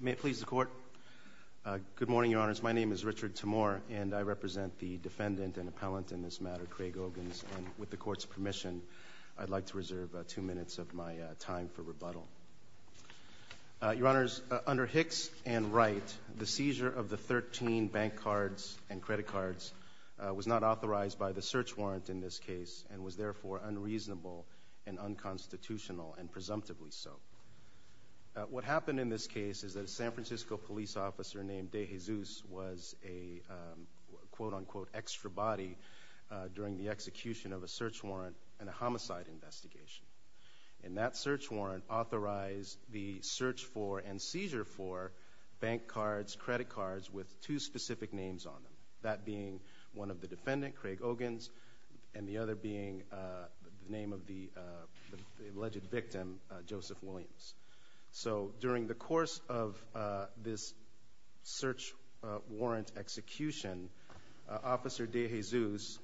May it please the Court. Good morning, Your Honors. My name is Richard Tamor, and I represent the defendant and appellant in this matter, Craig Ogans, and with the Court's permission, I'd like to reserve two minutes of my time for rebuttal. Your Honors, under Hicks and Wright, the seizure of the 13 bank cards and credit cards was not authorized by the search warrant in this case, and was therefore unreasonable and unconstitutional, and presumptively so. What happened in this case is that a San Francisco police officer named De Jesus was a quote-unquote extra body during the execution of a search warrant and a homicide investigation, and that search warrant authorized the search for and seizure for bank cards, credit cards with two specific names on them, that being one of the defendant, Craig Ogans, and the other being the name of the alleged victim, Joseph Williams. So, during the course of this search warrant execution, Officer De Jesus,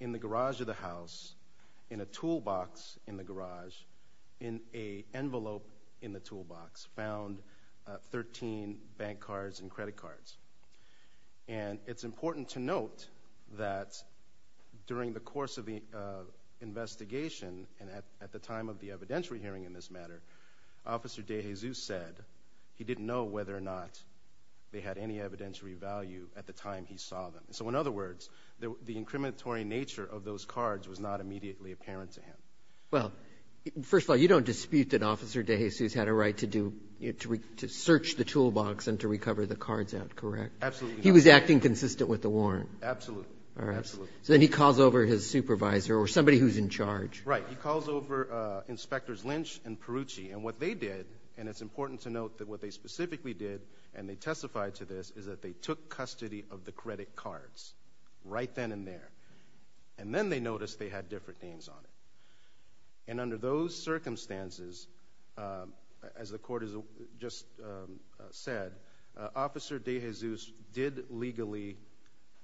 in the garage of the house, in a toolbox in the garage, in an envelope in the toolbox, found 13 bank cards and credit cards. And it's important to note that during the course of the investigation, and at the time of the evidentiary hearing in this matter, Officer De Jesus said he didn't know whether or not they had any evidentiary value at the time he saw them. So, in other words, the incriminatory nature of those cards was not immediately apparent to him. Well, first of all, you don't dispute that Officer De Jesus had a right to search the with the warrant? Absolutely. All right. Absolutely. So, then he calls over his supervisor or somebody who's in charge. Right. He calls over Inspectors Lynch and Perrucci. And what they did, and it's important to note that what they specifically did, and they testified to this, is that they took custody of the credit cards right then and there. And then they noticed they had different names on it. And under those circumstances, as the court has just said, Officer De Jesus did legally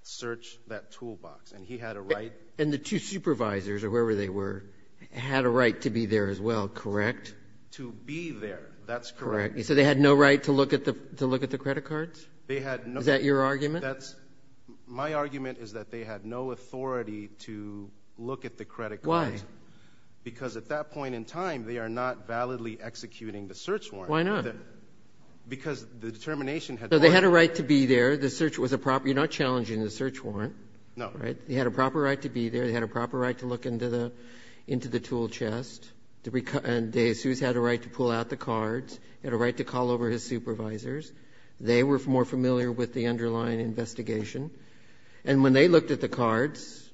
search that toolbox. And he had a right. And the two supervisors, or whoever they were, had a right to be there as well, correct? To be there. That's correct. Correct. So, they had no right to look at the credit cards? They had no... Is that your argument? My argument is that they had no authority to look at the credit cards. Why? Because at that point in time, they are not validly executing the search warrant. Why not? Because the determination had... So, they had a right to be there. The search was a proper... You're not challenging the search warrant. No. Right? They had a proper right to be there. They had a proper right to look into the tool chest. And De Jesus had a right to pull out the cards. He had a right to call over his supervisors. They were more familiar with the underlying investigation. And when they looked at the cards,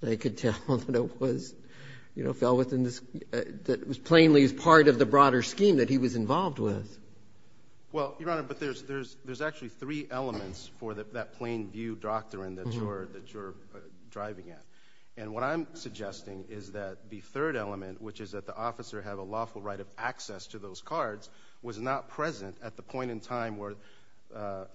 they could tell that it was, you know, fell within the... that it was plainly as part of the broader scheme that he was involved with. Well, Your Honor, but there's actually three elements for that plain view doctrine that you're driving at. And what I'm suggesting is that the third element, which is that the officer had a lawful right of access to those cards, was not present at the point in time where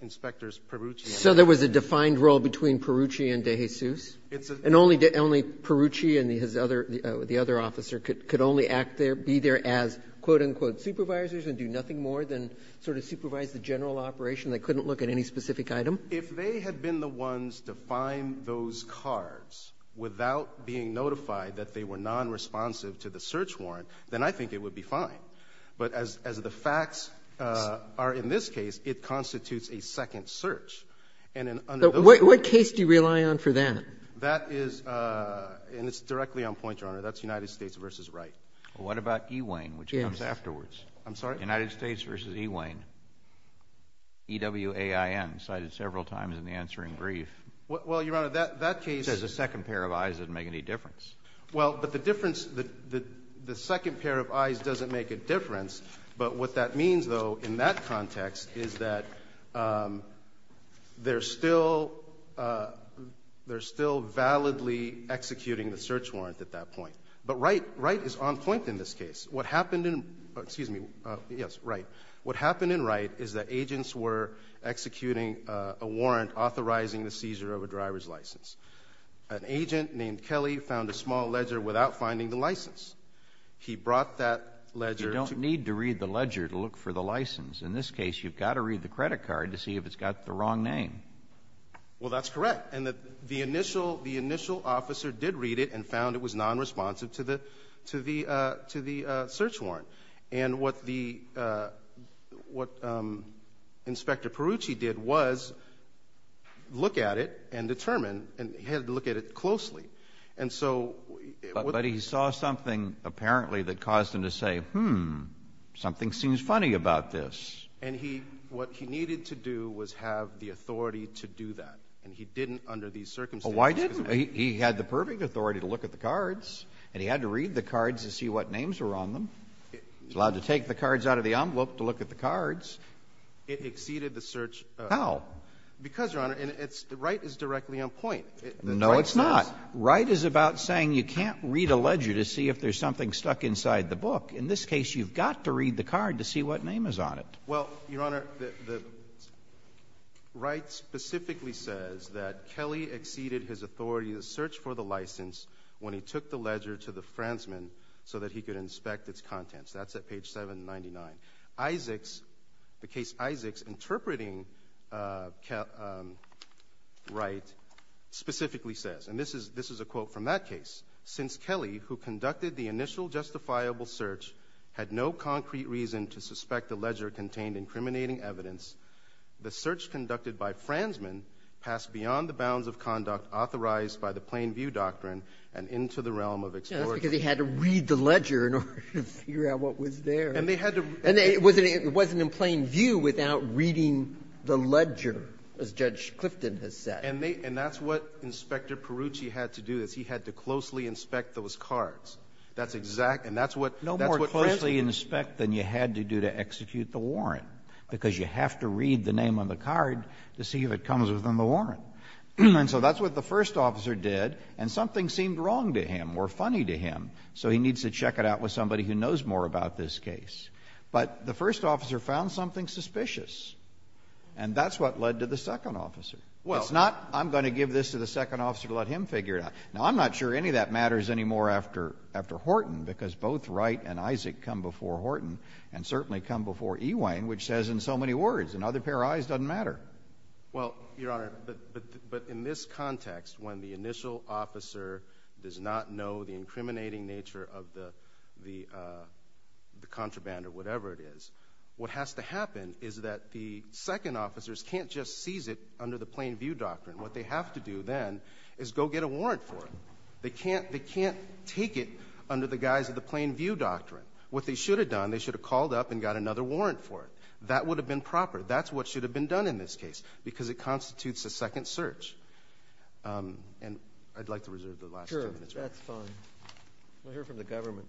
Inspectors Perrucci... So, there was a defined role between Perrucci and De Jesus? It's a... And only Perrucci and the other officer could only act there, be there as, quote, And there was nothing more than sort of supervise the general operation. They couldn't look at any specific item? If they had been the ones to find those cards without being notified that they were non-responsive to the search warrant, then I think it would be fine. But as the facts are in this case, it constitutes a second search. And under those... But what case do you rely on for that? That is, and it's directly on point, Your Honor. That's United States v. Wright. Well, what about E. Wayne, which comes afterwards? I'm sorry? United States v. E. Wayne, E-W-A-I-N, cited several times in the answering brief. Well, Your Honor, that case... Says a second pair of eyes doesn't make any difference. Well, but the difference, the second pair of eyes doesn't make a difference. But what that means, though, in that context is that they're still validly executing the search warrant at that point. But Wright is on point in this case. What happened in, excuse me, yes, Wright, what happened in Wright is that agents were executing a warrant authorizing the seizure of a driver's license. An agent named Kelly found a small ledger without finding the license. He brought that ledger... You don't need to read the ledger to look for the license. In this case, you've got to read the credit card to see if it's got the wrong name. Well, that's correct. And the initial officer did read it and found it was non-responsive to the search warrant. And what Inspector Perucci did was look at it and determine, and he had to look at it closely. And so... But he saw something apparently that caused him to say, hmm, something seems funny about this. And he, what he needed to do was have the authority to do that. And he didn't under these circumstances... He had the perfect authority to look at the cards and he had to read the cards to see what names were on them. He was allowed to take the cards out of the envelope to look at the cards. It exceeded the search... How? Because, Your Honor, Wright is directly on point. No, it's not. Wright is about saying you can't read a ledger to see if there's something stuck inside the book. In this case, you've got to read the card to see what name is on it. Well, Your Honor, Wright specifically says that Kelly exceeded his authority to search for the license when he took the ledger to the Fransman so that he could inspect its contents. That's at page 799. The case Isaacs interpreting Wright specifically says, and this is a quote from that case, since Kelly, who conducted the initial justifiable search, had no concrete reason to suspect the ledger contained incriminating evidence, the search conducted by Fransman passed beyond the bounds of conduct authorized by the Plain View Doctrine and into the realm of exploratory... Yeah, that's because he had to read the ledger in order to figure out what was there. And they had to... And it wasn't in Plain View without reading the ledger, as Judge Clifton has said. And that's what Inspector Perrucci had to do, is he had to closely inspect those cards. That's exact... No more closely inspect than you had to do to execute the warrant, because you have to read the name on the card to see if it comes within the warrant. And so that's what the first officer did, and something seemed wrong to him or funny to him. So he needs to check it out with somebody who knows more about this case. But the first officer found something suspicious, and that's what led to the second officer. Well... It's not, I'm going to give this to the second officer to let him figure it out. Now, I'm not sure any of that matters anymore after Horton, because both Wright and Isaac come before Horton, and certainly come before Ewing, which says in so many words, another pair of eyes doesn't matter. Well, Your Honor, but in this context, when the initial officer does not know the incriminating nature of the contraband or whatever it is, what has to happen is that the second officers can't just seize it under the Plain View doctrine. What they have to do then is go get a warrant for it. They can't take it under the guise of the Plain View doctrine. What they should have done, they should have called up and got another warrant for it. That would have been proper. That's what should have been done in this case, because it constitutes a second search. And I'd like to reserve the last two minutes. Sure, that's fine. We'll hear from the government.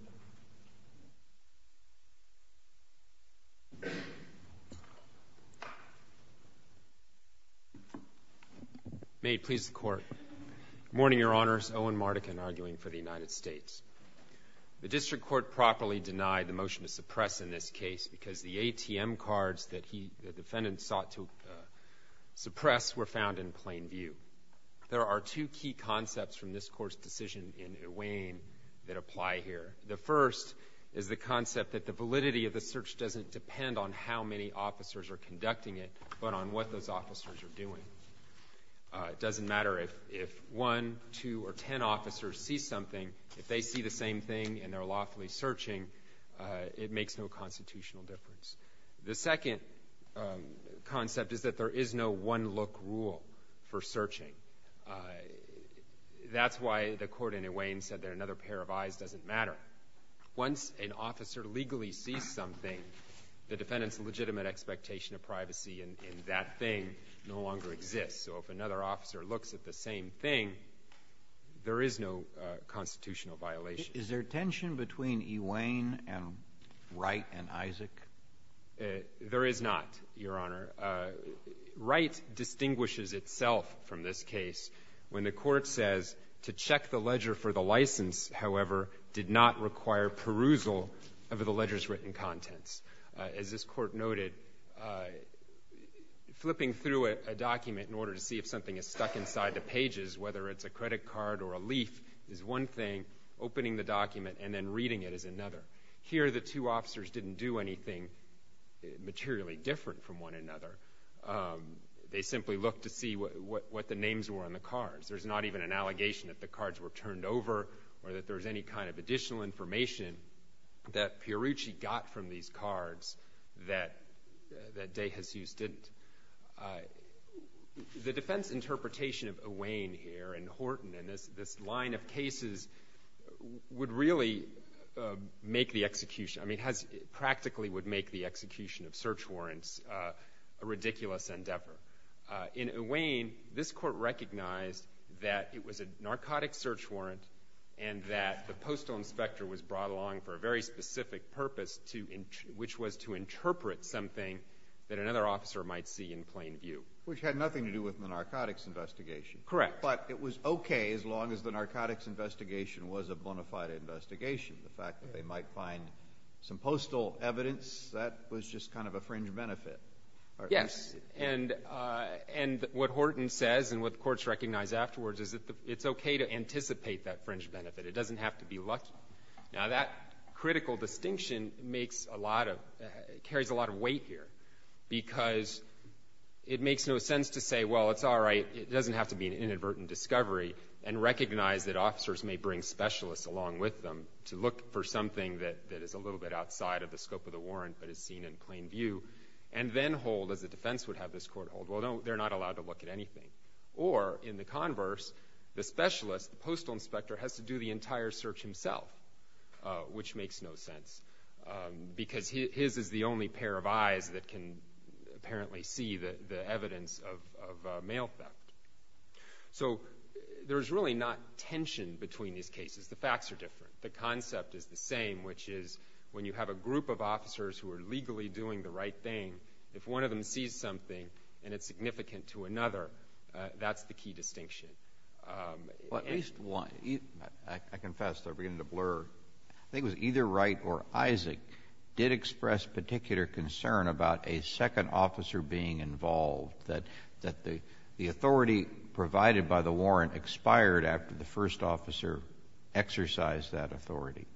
May it please the Court. Good morning, Your Honors. Owen Mardikin, arguing for the United States. The District Court properly denied the motion to suppress in this case, because the ATM cards that the defendant sought to suppress were found in Plain View. There are two key concepts from this Court's decision in Ewing that apply here. The first is the concept that the validity of the search doesn't depend on how many officers are conducting it, but on what those officers are doing. It doesn't matter if one, two, or ten officers see something. If they see the same thing and they're lawfully searching, it makes no constitutional difference. The second concept is that there is no one-look rule for searching. That's why the Court in Ewing said that another pair of eyes doesn't matter. Once an officer legally sees something, the defendant's legitimate expectation of privacy in that thing no longer exists. If another officer looks at the same thing, there is no constitutional violation. Is there tension between Ewing and Wright and Isaac? There is not, Your Honor. Wright distinguishes itself from this case when the Court says, to check the ledger for the license, however, did not require perusal of the ledger's written contents. As this Court noted, flipping through a document in order to see if something is stuck inside the pages, whether it's a credit card or a leaf, is one thing. Opening the document and then reading it is another. Here, the two officers didn't do anything materially different from one another. They simply looked to see what the names were on the cards. There's not even an allegation that the cards were turned over or that there's any kind of additional information that Pierucci got from these cards that de Jesus didn't. The defense interpretation of Ewing here and Horton and this line of cases would really make the execution, I mean, practically would make the execution of search warrants a ridiculous endeavor. In Ewing, this Court recognized that it was a narcotic search warrant and that postal inspector was brought along for a very specific purpose, which was to interpret something that another officer might see in plain view. Which had nothing to do with the narcotics investigation. Correct. But it was okay as long as the narcotics investigation was a bona fide investigation. The fact that they might find some postal evidence, that was just kind of a fringe benefit. Yes, and what Horton says and what the Courts recognize afterwards is that it's okay to anticipate that fringe benefit. It doesn't have to be lucky. Now, that critical distinction makes a lot of, carries a lot of weight here. Because it makes no sense to say, well, it's all right. It doesn't have to be an inadvertent discovery and recognize that officers may bring specialists along with them to look for something that is a little bit outside of the scope of the warrant but is seen in plain view. And then hold, as the defense would have this Court hold, well, they're not allowed to look at anything. Or in the converse, the specialist, the postal inspector has to do the entire search himself. Which makes no sense. Because his is the only pair of eyes that can apparently see the evidence of mail theft. So there's really not tension between these cases. The facts are different. The concept is the same, which is when you have a group of officers who are legally doing the right thing, if one of them sees something and it's significant to another, that's the key distinction. JUSTICE KENNEDY Well, at least one. I confess, I'm beginning to blur. I think it was either Wright or Isaac did express particular concern about a second officer being involved, that the authority provided by the warrant expired after the first officer exercised that authority.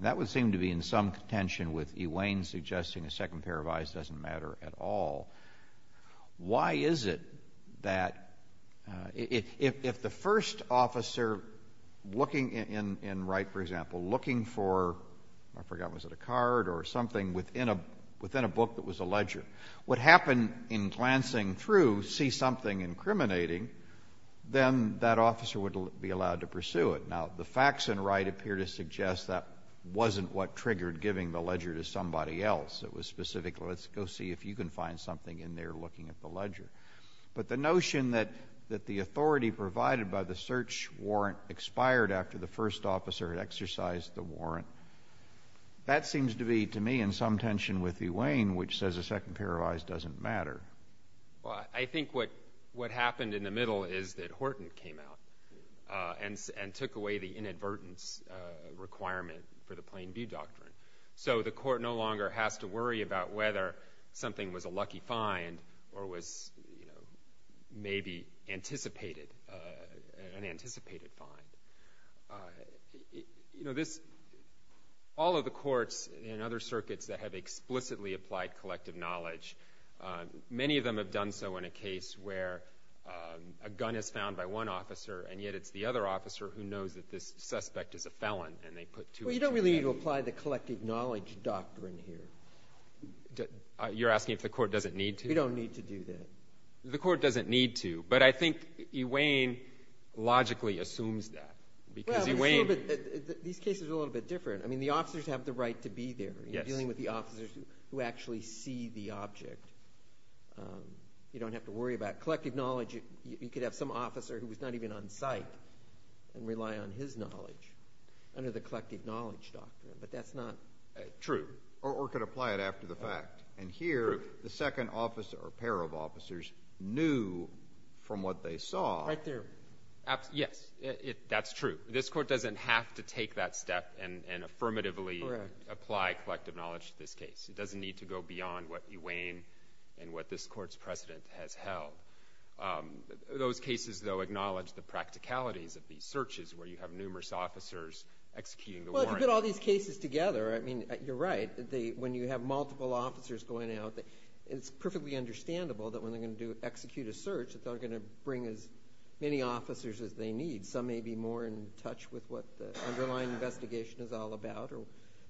That would seem to be in some contention with Ewain suggesting a second pair of eyes doesn't matter at all. Why is it that if the first officer looking in Wright, for example, looking for, I forgot, was it a card or something within a book that was a ledger, would happen in glancing through, see something incriminating, then that officer would be allowed to pursue it. Now, the facts in Wright appear to suggest that wasn't what triggered giving the ledger to somebody else. It was specifically, let's go see if you can find something in there looking at the ledger. But the notion that the authority provided by the search warrant expired after the first officer had exercised the warrant, that seems to be, to me, in some tension with Ewain, which says a second pair of eyes doesn't matter. MR. ZUNIGA Well, I think what happened in the middle is that Horton came out and took away the inadvertence requirement for the Plain View Doctrine. So the court no longer has to worry about whether something was a lucky find or was maybe anticipated, an anticipated find. You know, this, all of the courts in other circuits that have explicitly applied collective knowledge, many of them have done so in a case where a gun is found by one officer and yet it's the other officer who knows that this suspect is a felon, and they put two I don't really need to apply the collective knowledge doctrine here. ZUNIGA You're asking if the court doesn't need to? MR. ZUNIGA We don't need to do that. MR. ZUNIGA The court doesn't need to. But I think Ewain logically assumes that, because Ewain MR. ZUNIGA Well, but it's a little bit, these cases are a little bit different. I mean, the officers have the right to be there. MR. ZUNIGA Yes. MR. ZUNIGA You're dealing with the officers who actually see the object. You don't have to worry about collective knowledge. You could have some officer who was not even on site and rely on his knowledge under the collective knowledge doctrine, but that's not true. ZUNIGA Or could apply it after the fact. And here, the second officer or pair of officers knew from what they saw. MR. ZUNIGA Right there. MR. ZUNIGA Yes, that's true. This court doesn't have to take that step and affirmatively apply collective knowledge to this case. It doesn't need to go beyond what Ewain and what this court's precedent has held. Those cases, though, acknowledge the practicalities of these searches where you have officers executing the warrant. ZUNIGA Well, you put all these cases together, I mean, you're right. When you have multiple officers going out, it's perfectly understandable that when they're going to execute a search that they're going to bring as many officers as they need. Some may be more in touch with what the underlying investigation is all about or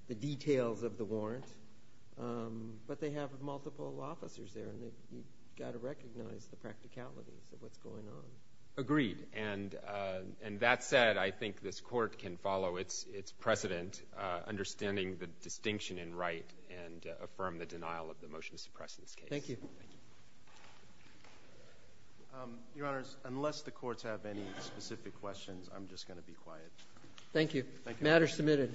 the details of the warrant, but they have multiple officers there and you've got to recognize the practicalities of what's going on. MR. ZUNIGA Agreed. And that said, I think this court can follow its precedent, understanding the distinction in right and affirm the denial of the motion to suppress this case. ZUNIGA Thank you. ZUNIGA Thank you. MR. ZUNIGA Your Honors, unless the courts have any specific questions, I'm just going to be quiet. ZUNIGA Thank you. MR. ZUNIGA Thank you. MR. ZUNIGA Matter submitted.